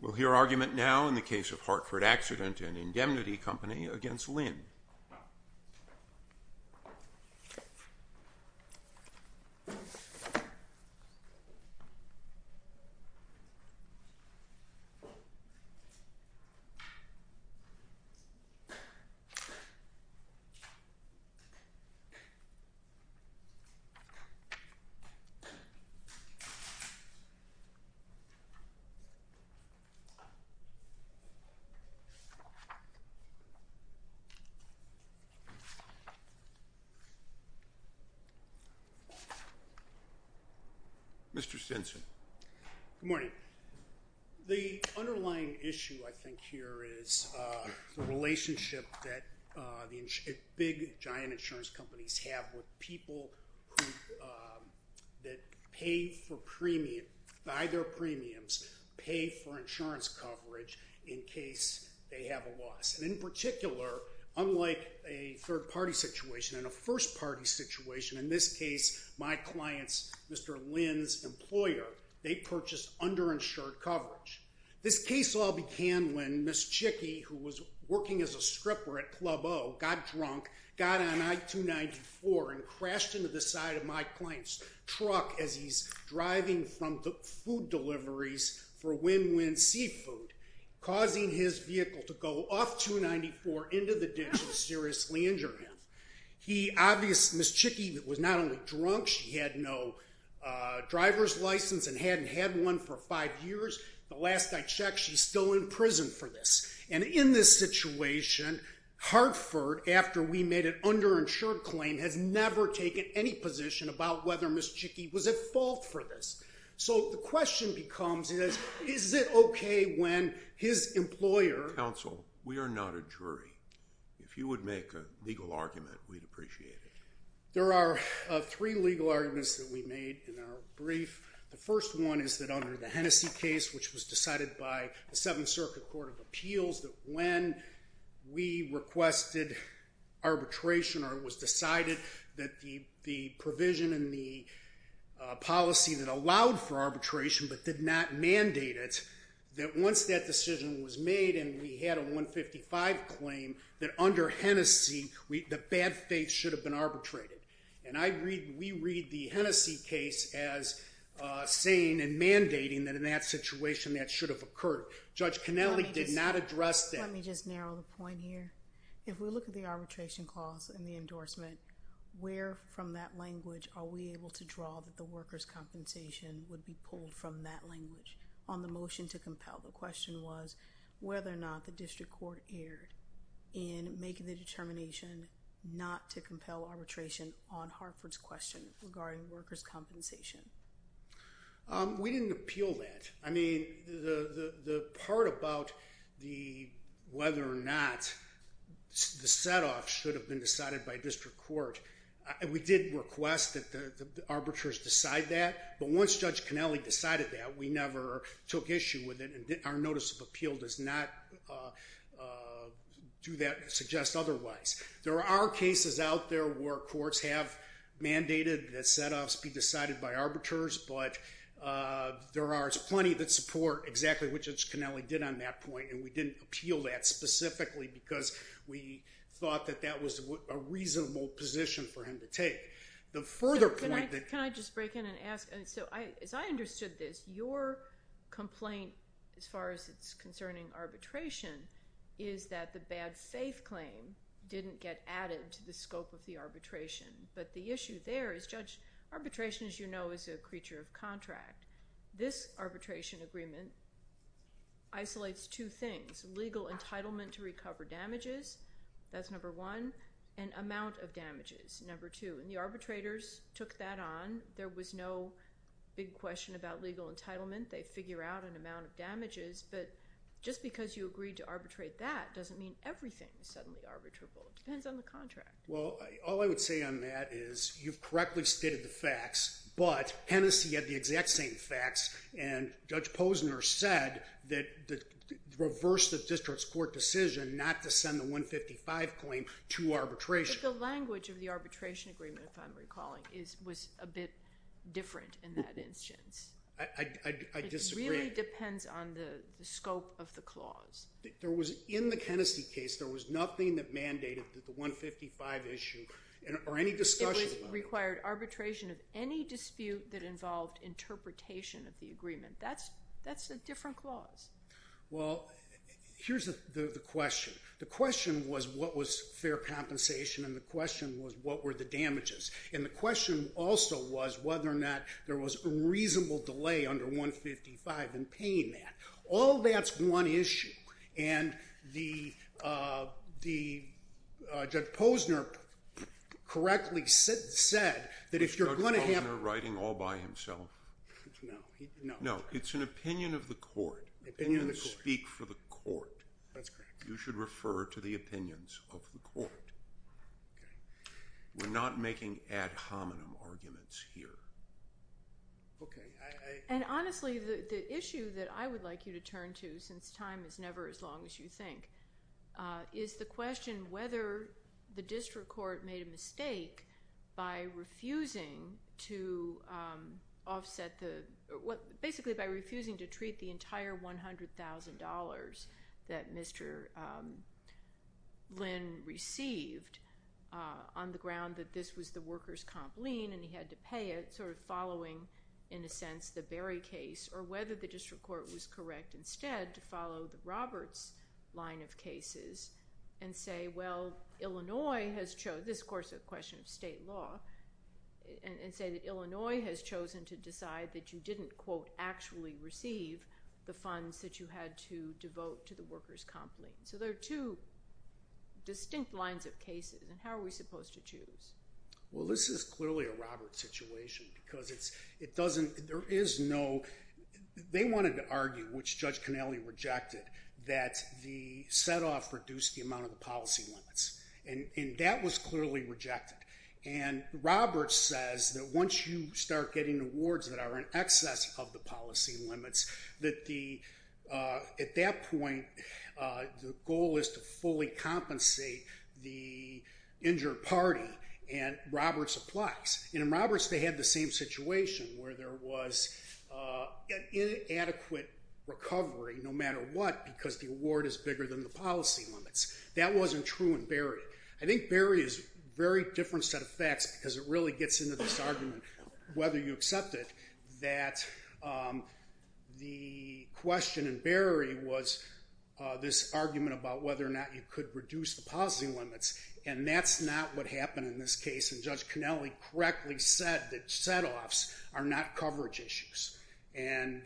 We'll hear argument now in the case of Hartford Accident and Indemnity Company against Lin. Mr. Stinson Good morning. The underlying issue, I think, here is the relationship that big, giant insurance companies have with people who pay for premiums, buy their premiums, pay for insurance, and then go home. In case they have a loss. And in particular, unlike a third-party situation and a first-party situation, in this case, my client's, Mr. Lin's, employer, they purchased underinsured coverage. This case all began when Ms. Chicky, who was working as a stripper at Club O, got drunk, got on I-294, and crashed into the side of my client's truck as he's driving from food deliveries for Win-Win Seafood, causing his vehicle to go off 294 into the ditch and seriously injure him. He obviously, Ms. Chicky was not only drunk, she had no driver's license and hadn't had one for five years. The last I checked, she's still in prison for this. And in this situation, Hartford, after we made an underinsured claim, has never taken any position about whether Ms. Chicky was at fault for this. So the question becomes, is it okay when his employer Counsel, we are not a jury. If you would make a legal argument, we'd appreciate it. There are three legal arguments that we made in our brief. The first one is that under the Hennessy case, which was decided by the Seventh Circuit Court of Appeals, that when we requested arbitration or it was decided that the provision in the policy that allowed for arbitration but did not mandate it, that once that decision was made and we had a 155 claim, that under Hennessy, the bad faith should have been arbitrated. And we read the Hennessy case as saying and mandating that in that situation that should have occurred. Judge Connelly did not address that. Let me just narrow the point here. If we look at the arbitration clause and the endorsement, where from that language are we able to draw that the workers' compensation would be pulled from that language on the motion to compel? The question was whether or not the district court erred in making the determination not to compel arbitration on Hartford's question regarding workers' compensation. We didn't appeal that. I mean, the part about whether or not the set-off should have been decided by district court, we did request that the arbiters decide that. But once Judge Connelly decided that, we never took issue with it and our notice of appeal does not suggest otherwise. There are cases out there where courts have mandated that set-offs be decided by arbiters, but there are plenty that support exactly what Judge Connelly did on that point. And we didn't appeal that specifically because we thought that that was a reasonable position for him to take. Can I just break in and ask? As I understood this, your complaint as far as it's concerning arbitration is that the bad faith claim didn't get added to the scope of the arbitration. But the issue there is, Judge, arbitration, as you know, is a creature of contract. This arbitration agreement isolates two things. Legal entitlement to recover damages, that's number one, and amount of damages, number two. And the arbitrators took that on. There was no big question about legal entitlement. They figure out an amount of damages. But just because you agreed to arbitrate that doesn't mean everything is suddenly arbitrable. It depends on the contract. Well, all I would say on that is you've correctly stated the facts, but Hennessy had the exact same facts, and Judge Posner said that reverse the district's court decision not to send the 155 claim to arbitration. But the language of the arbitration agreement, if I'm recalling, was a bit different in that instance. I disagree. It really depends on the scope of the clause. In the Hennessy case, there was nothing that mandated the 155 issue or any discussion about it. It required arbitration of any dispute that involved interpretation of the agreement. That's a different clause. Well, here's the question. The question was what was fair compensation, and the question was what were the damages. And the question also was whether or not there was a reasonable delay under 155 in paying that. All that's one issue. And Judge Posner correctly said that if you're going to have— Was Judge Posner writing all by himself? No. No, it's an opinion of the court. Opinions speak for the court. That's correct. You should refer to the opinions of the court. Okay. We're not making ad hominem arguments here. Okay. And honestly, the issue that I would like you to turn to, since time is never as long as you think, is the question whether the district court made a mistake by refusing to offset the— on the ground that this was the workers' comp lien and he had to pay it, sort of following, in a sense, the Berry case, or whether the district court was correct instead to follow the Roberts line of cases and say, well, Illinois has—this, of course, is a question of state law— and say that Illinois has chosen to decide that you didn't, quote, actually receive the funds that you had to devote to the workers' comp lien. So there are two distinct lines of cases, and how are we supposed to choose? Well, this is clearly a Roberts situation because it doesn't— there is no—they wanted to argue, which Judge Connelly rejected, that the set-off reduced the amount of the policy limits, and that was clearly rejected. And Roberts says that once you start getting awards that are in excess of the policy limits, that the—at that point, the goal is to fully compensate the injured party, and Roberts applies. And in Roberts, they had the same situation where there was an inadequate recovery, no matter what, because the award is bigger than the policy limits. That wasn't true in Berry. I think Berry is a very different set of facts because it really gets into this argument, whether you accept it, that the question in Berry was this argument about whether or not you could reduce the policy limits, and that's not what happened in this case, and Judge Connelly correctly said that set-offs are not coverage issues. And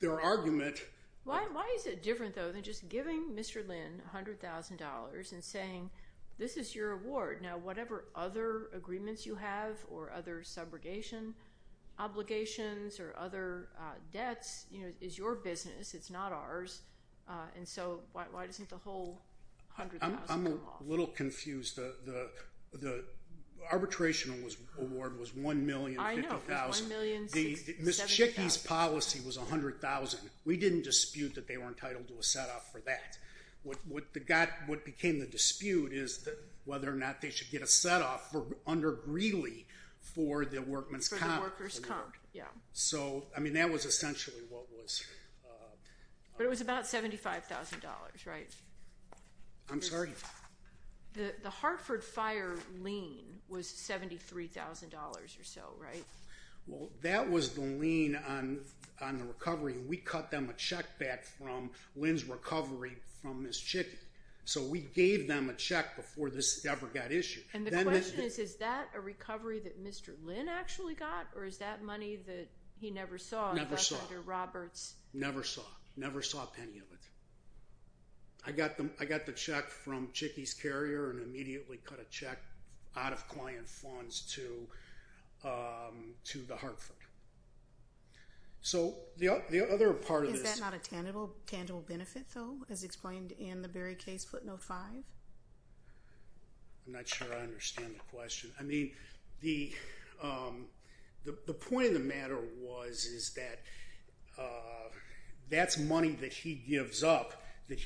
their argument— Why is it different, though, than just giving Mr. Lynn $100,000 and saying, This is your award. Now, whatever other agreements you have or other subrogation obligations or other debts is your business. It's not ours, and so why doesn't the whole $100,000 come off? I'm a little confused. The arbitration award was $1,050,000. I know. It was $1,060,000. Ms. Chicky's policy was $100,000. We didn't dispute that they were entitled to a set-off for that. What became the dispute is whether or not they should get a set-off under Greeley for the workers' comp. For the workers' comp, yeah. So, I mean, that was essentially what was— But it was about $75,000, right? I'm sorry? The Hartford Fire lien was $73,000 or so, right? Well, that was the lien on the recovery, and we cut them a check back from Lynn's recovery from Ms. Chicky. So we gave them a check before this ever got issued. And the question is, is that a recovery that Mr. Lynn actually got, or is that money that he never saw— Never saw. —from Senator Roberts? Never saw. Never saw a penny of it. I got the check from Chicky's carrier and immediately cut a check out of client funds to the Hartford. So the other part of this— Is that not a tangible benefit, though, as explained in the Berry case, footnote 5? I'm not sure I understand the question. I mean, the point of the matter was is that that's money that he gives up and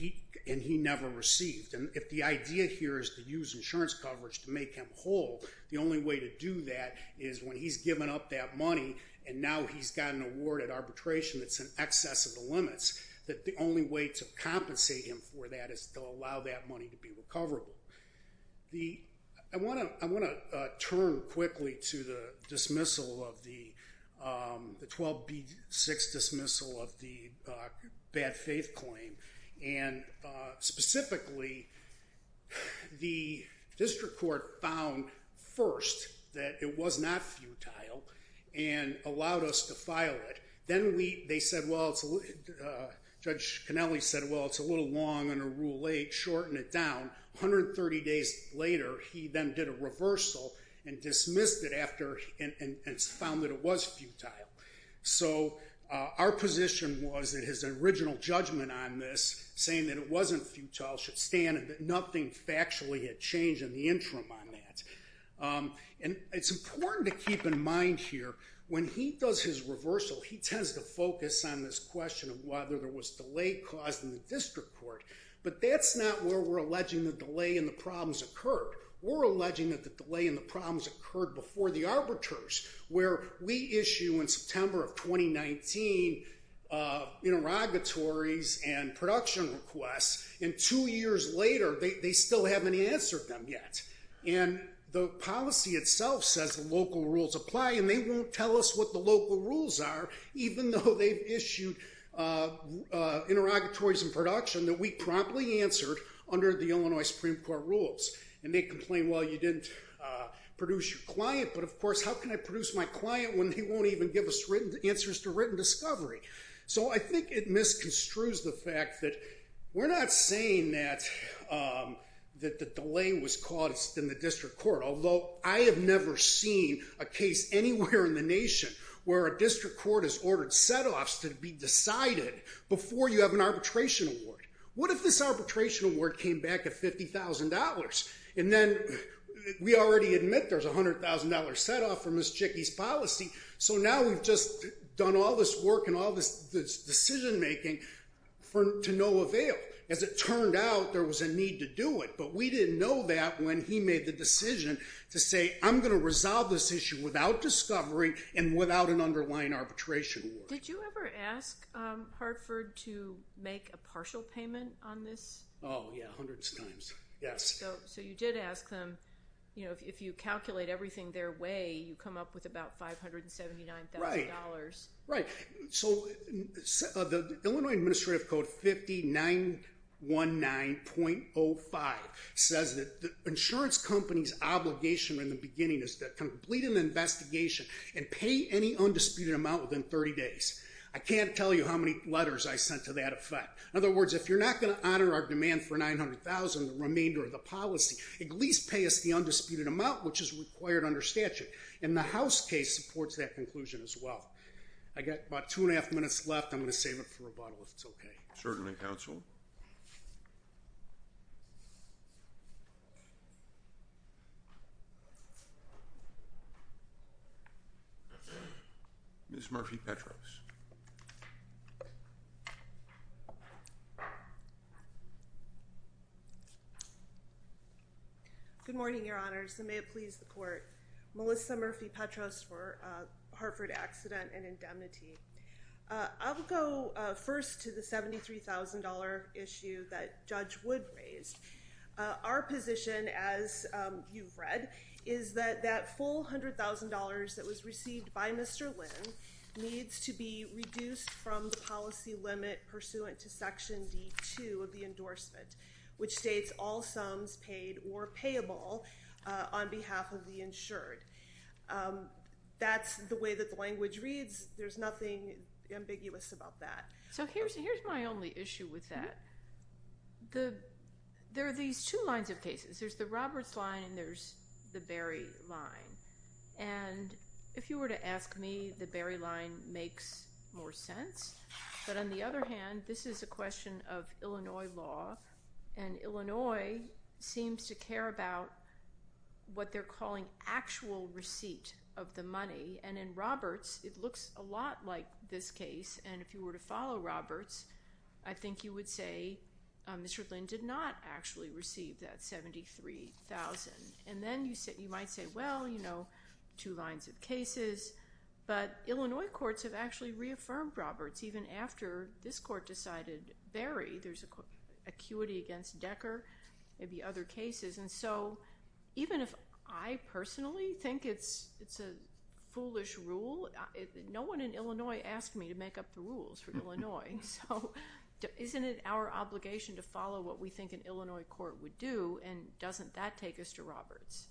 he never received. And if the idea here is to use insurance coverage to make him whole, the only way to do that is when he's given up that money and now he's got an award at arbitration that's in excess of the limits, that the only way to compensate him for that is to allow that money to be recoverable. I want to turn quickly to the dismissal of the—the 12B6 dismissal of the bad faith claim. And specifically, the district court found first that it was not futile and allowed us to file it. Then we—they said, well, Judge Cannelli said, well, it's a little long under Rule 8. Shorten it down. 130 days later, he then did a reversal and dismissed it after—and found that it was futile. So our position was that his original judgment on this, saying that it wasn't futile, should stand and that nothing factually had changed in the interim on that. And it's important to keep in mind here, when he does his reversal, he tends to focus on this question of whether there was delay caused in the district court. But that's not where we're alleging the delay in the problems occurred. We're alleging that the delay in the problems occurred before the arbiters, where we issue in September of 2019 interrogatories and production requests, and two years later, they still haven't answered them yet. And the policy itself says the local rules apply, and they won't tell us what the local rules are, even though they've issued interrogatories and production that we promptly answered under the Illinois Supreme Court rules. And they complain, well, you didn't produce your client. But, of course, how can I produce my client when they won't even give us answers to written discovery? So I think it misconstrues the fact that we're not saying that the delay was caused in the district court, although I have never seen a case anywhere in the nation where a district court has ordered set-offs to be decided before you have an arbitration award. What if this arbitration award came back at $50,000? And then we already admit there's a $100,000 set-off from Ms. Jickey's policy, so now we've just done all this work and all this decision-making to no avail. As it turned out, there was a need to do it. But we didn't know that when he made the decision to say, I'm going to resolve this issue without discovery and without an underlying arbitration award. Did you ever ask Hartford to make a partial payment on this? Oh, yeah, hundreds of times, yes. So you did ask them, you know, if you calculate everything their way, you come up with about $579,000. Right. So the Illinois Administrative Code 5919.05 says that the insurance company's obligation in the beginning is to complete an investigation and pay any undisputed amount within 30 days. I can't tell you how many letters I sent to that effect. In other words, if you're not going to honor our demand for $900,000, the remainder of the policy, at least pay us the undisputed amount, which is required under statute. And the House case supports that conclusion as well. I've got about two and a half minutes left. I'm going to save it for rebuttal if it's okay. Certainly, counsel. Ms. Murphy-Petros. Good morning, Your Honors, and may it please the Court. Melissa Murphy-Petros for Hartford Accident and Indemnity. I'll go first to the $73,000 issue that Judge Wood raised. Our position, as you've read, is that that full $100,000 that was received by Mr. Lynn needs to be reduced from the policy limit pursuant to Section D2 of the endorsement, which states all sums paid or payable on behalf of the insured. That's the way that the language reads. There's nothing ambiguous about that. So here's my only issue with that. There are these two lines of cases. There's the Roberts line and there's the Berry line. And if you were to ask me, the Berry line makes more sense. But on the other hand, this is a question of Illinois law. And Illinois seems to care about what they're calling actual receipt of the money. And in Roberts, it looks a lot like this case. And if you were to follow Roberts, I think you would say Mr. Lynn did not actually receive that $73,000. And then you might say, well, you know, two lines of cases. But Illinois courts have actually reaffirmed Roberts even after this court decided Berry. There's acuity against Decker, maybe other cases. And so even if I personally think it's a foolish rule, no one in Illinois asked me to make up the rules for Illinois. So isn't it our obligation to follow what we think an Illinois court would do? And doesn't that take us to Roberts?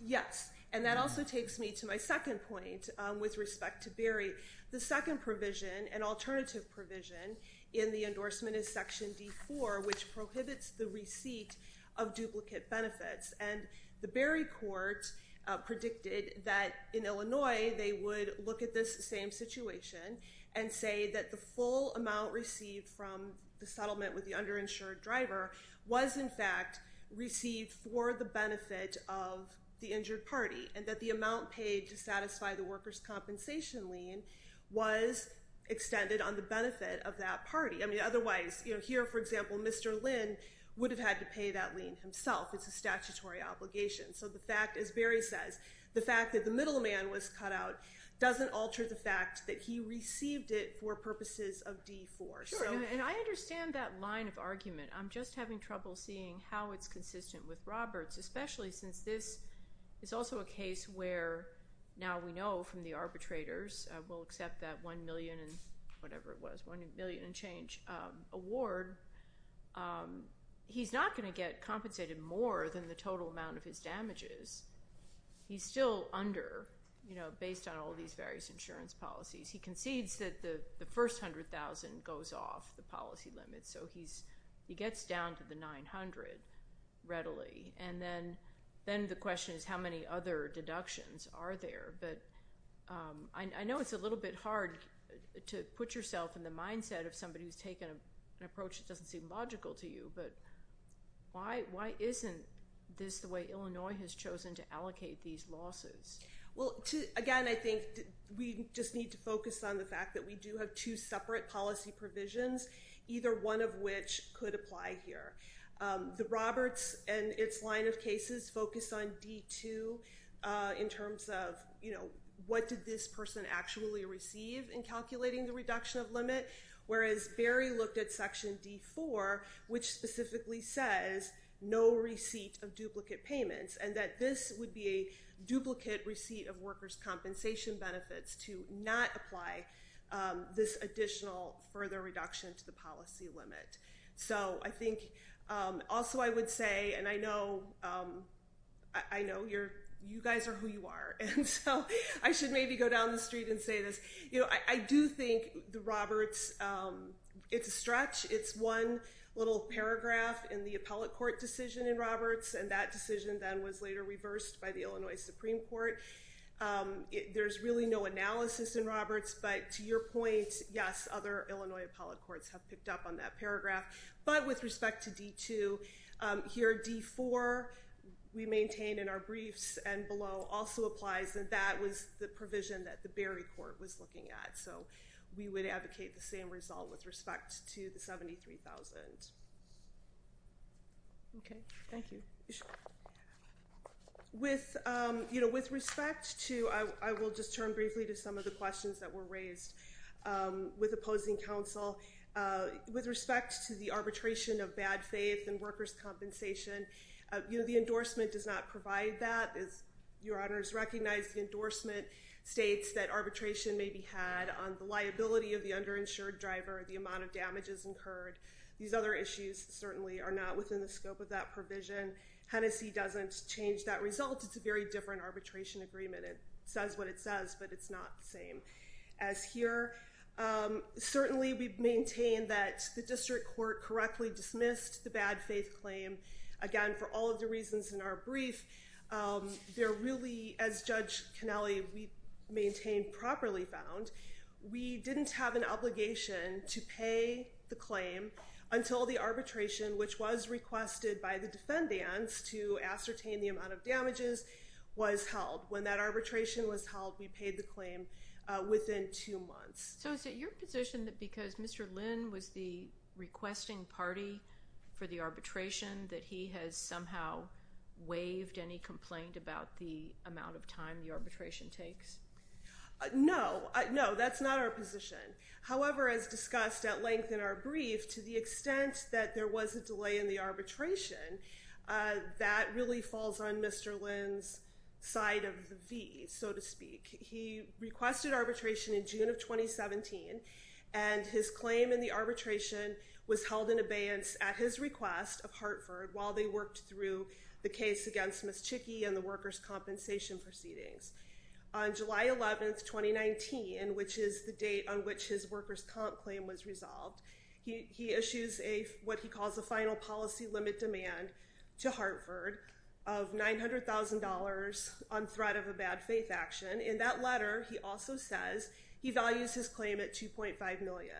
Yes. And that also takes me to my second point with respect to Berry. The second provision, an alternative provision, in the endorsement is Section D4, which prohibits the receipt of duplicate benefits. And the Berry court predicted that in Illinois they would look at this same situation and say that the full amount received from the settlement with the underinsured driver was, in fact, received for the benefit of the injured party. And that the amount paid to satisfy the workers' compensation lien was extended on the benefit of that party. I mean, otherwise, you know, here, for example, Mr. Lynn would have had to pay that lien himself. It's a statutory obligation. So the fact, as Berry says, the fact that the middleman was cut out doesn't alter the fact that he received it for purposes of D4. And I understand that line of argument. I'm just having trouble seeing how it's consistent with Roberts, especially since this is also a case where now we know from the arbitrators we'll accept that $1 million and whatever it was, $1 million and change award. He's not going to get compensated more than the total amount of his damages. He's still under, you know, based on all these various insurance policies. He concedes that the first $100,000 goes off the policy limit. So he gets down to the $900,000 readily. And then the question is how many other deductions are there? But I know it's a little bit hard to put yourself in the mindset of somebody who's taken an approach that doesn't seem logical to you. But why isn't this the way Illinois has chosen to allocate these losses? Well, again, I think we just need to focus on the fact that we do have two separate policy provisions. Either one of which could apply here. The Roberts and its line of cases focus on D2 in terms of, you know, what did this person actually receive in calculating the reduction of limit? Whereas Barry looked at Section D4, which specifically says no receipt of duplicate payments. And that this would be a duplicate receipt of workers' compensation benefits to not apply this additional further reduction to the policy limit. So I think also I would say, and I know you guys are who you are. And so I should maybe go down the street and say this. You know, I do think the Roberts, it's a stretch. It's one little paragraph in the appellate court decision in Roberts. And that decision then was later reversed by the Illinois Supreme Court. There's really no analysis in Roberts. But to your point, yes, other Illinois appellate courts have picked up on that paragraph. But with respect to D2, here D4 we maintain in our briefs and below also applies. And that was the provision that the Barry court was looking at. So we would advocate the same result with respect to the $73,000. Okay, thank you. With, you know, with respect to, I will just turn briefly to some of the questions that were raised with opposing counsel. With respect to the arbitration of bad faith and workers' compensation, you know, the endorsement does not provide that. As your honors recognize, the endorsement states that arbitration may be had on the liability of the underinsured driver, the amount of damages incurred. These other issues certainly are not within the scope of that provision. Hennessy doesn't change that result. It's a very different arbitration agreement. It says what it says, but it's not the same. As here, certainly we maintain that the district court correctly dismissed the bad faith claim. Again, for all of the reasons in our brief, they're really, as Judge Kennelly, we maintain properly found. We didn't have an obligation to pay the claim until the arbitration, which was requested by the defendants to ascertain the amount of damages, was held. When that arbitration was held, we paid the claim within two months. So is it your position that because Mr. Lynn was the requesting party for the arbitration that he has somehow waived any complaint about the amount of time the arbitration takes? No, no, that's not our position. However, as discussed at length in our brief, to the extent that there was a delay in the arbitration, that really falls on Mr. Lynn's side of the V, so to speak. He requested arbitration in June of 2017, and his claim in the arbitration was held in abeyance at his request of Hartford while they worked through the case against Miss Chickie and the workers' compensation proceedings. On July 11, 2019, which is the date on which his workers' comp claim was resolved, he issues what he calls a final policy limit demand to Hartford of $900,000 on threat of a bad faith action. In that letter, he also says he values his claim at $2.5 million.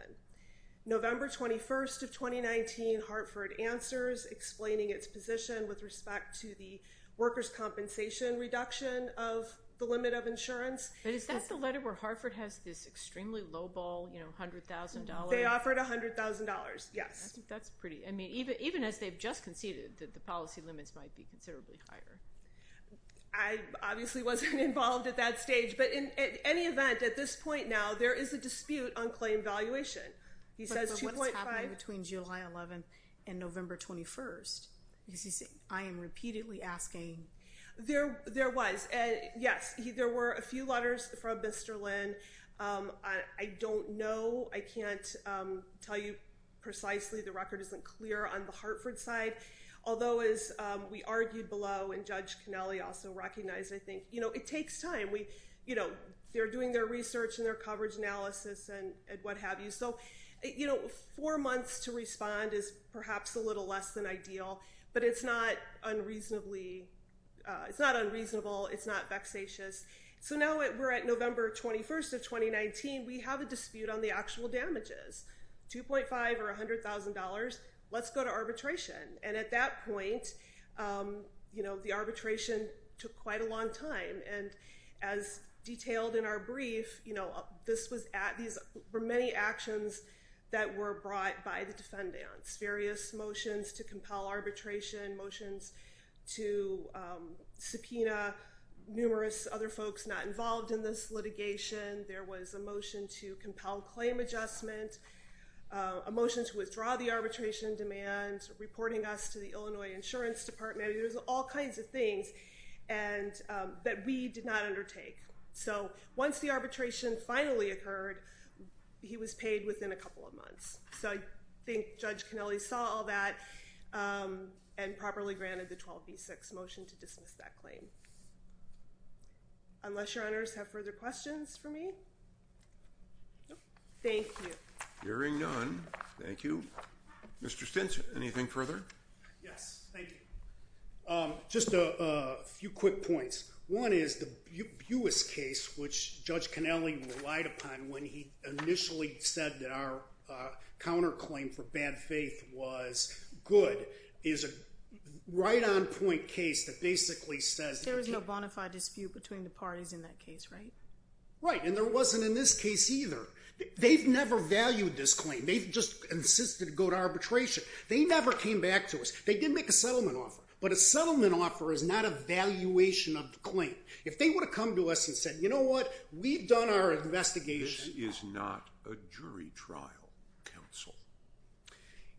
November 21 of 2019, Hartford answers, explaining its position with respect to the workers' compensation reduction of the limit of insurance. But is that the letter where Hartford has this extremely low ball, $100,000? They offered $100,000, yes. That's pretty. I mean, even as they've just conceded that the policy limits might be considerably higher. I obviously wasn't involved at that stage. But in any event, at this point now, there is a dispute on claim valuation. He says $2.5. But what's happening between July 11 and November 21? Because he's saying, I am repeatedly asking. There was. Yes, there were a few letters from Mr. Lynn. I don't know. I can't tell you precisely. The record isn't clear on the Hartford side. Although, as we argued below, and Judge Connelly also recognized, I think it takes time. They're doing their research and their coverage analysis and what have you. So four months to respond is perhaps a little less than ideal. But it's not unreasonable. It's not vexatious. So now we're at November 21 of 2019. We have a dispute on the actual damages, $2.5 or $100,000. Let's go to arbitration. And at that point, the arbitration took quite a long time. And as detailed in our brief, these were many actions that were brought by the defendants, various motions to compel arbitration, motions to subpoena numerous other folks not involved in this litigation. There was a motion to compel claim adjustment, a motion to withdraw the arbitration demand, reporting us to the Illinois Insurance Department. There was all kinds of things that we did not undertake. So once the arbitration finally occurred, he was paid within a couple of months. So I think Judge Connelly saw all that and properly granted the 12B6 motion to dismiss that claim. Unless your honors have further questions for me? Nope. Thank you. Hearing none, thank you. Mr. Stinch, anything further? Yes, thank you. Just a few quick points. One is the Buis case, which Judge Connelly relied upon when he initially said that our counterclaim for bad faith was good, is a right-on-point case that basically says- There was no bona fide dispute between the parties in that case, right? Right, and there wasn't in this case either. They've never valued this claim. They've just insisted to go to arbitration. They never came back to us. They did make a settlement offer, but a settlement offer is not a valuation of the claim. If they would have come to us and said, you know what, we've done our investigation- This is not a jury trial, counsel.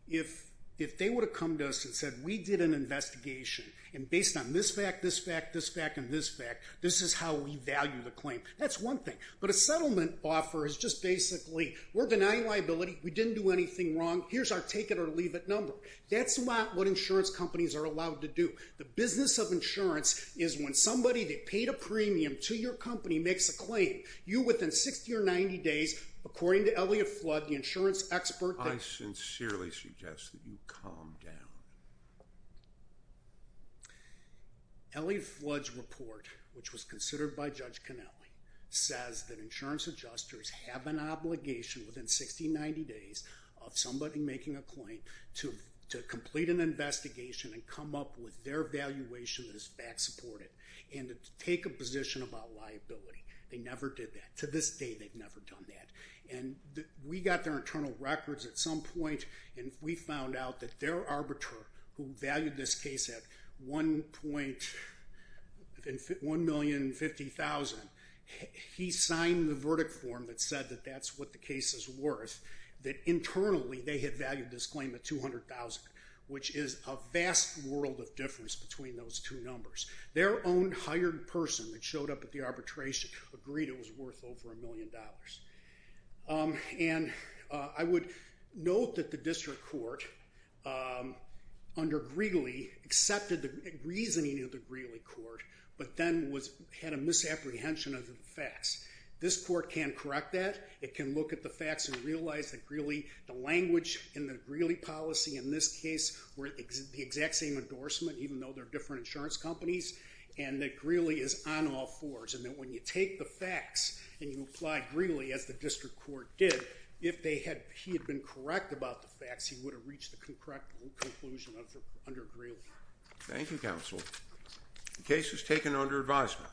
If they would have come to us and said, we did an investigation, and based on this fact, this fact, this fact, and this fact, this is how we value the claim, that's one thing. But a settlement offer is just basically, we're denying liability, we didn't do anything wrong, here's our take-it-or-leave-it number. That's not what insurance companies are allowed to do. The business of insurance is when somebody that paid a premium to your company makes a claim. You, within 60 or 90 days, according to Elliott Flood, the insurance expert- I sincerely suggest that you calm down. Elliott Flood's report, which was considered by Judge Connelly, says that insurance adjusters have an obligation within 60 or 90 days of somebody making a claim to complete an investigation and come up with their valuation that is fact-supported and to take a position about liability. They never did that. To this day, they've never done that. We got their internal records at some point, and we found out that their arbiter, who valued this case at $1,050,000, he signed the verdict form that said that that's what the case is worth, that internally they had valued this claim at $200,000, which is a vast world of difference between those two numbers. Their own hired person that showed up at the arbitration agreed it was worth over $1 million. And I would note that the district court, under Greeley, accepted the reasoning of the Greeley court, but then had a misapprehension of the facts. This court can correct that. It can look at the facts and realize that the language in the Greeley policy in this case were the exact same endorsement, even though they're different insurance companies, and that Greeley is on all fours, and that when you take the facts and you apply Greeley, as the district court did, if he had been correct about the facts, he would have reached the correct conclusion under Greeley. Thank you, counsel. The case was taken under advisement.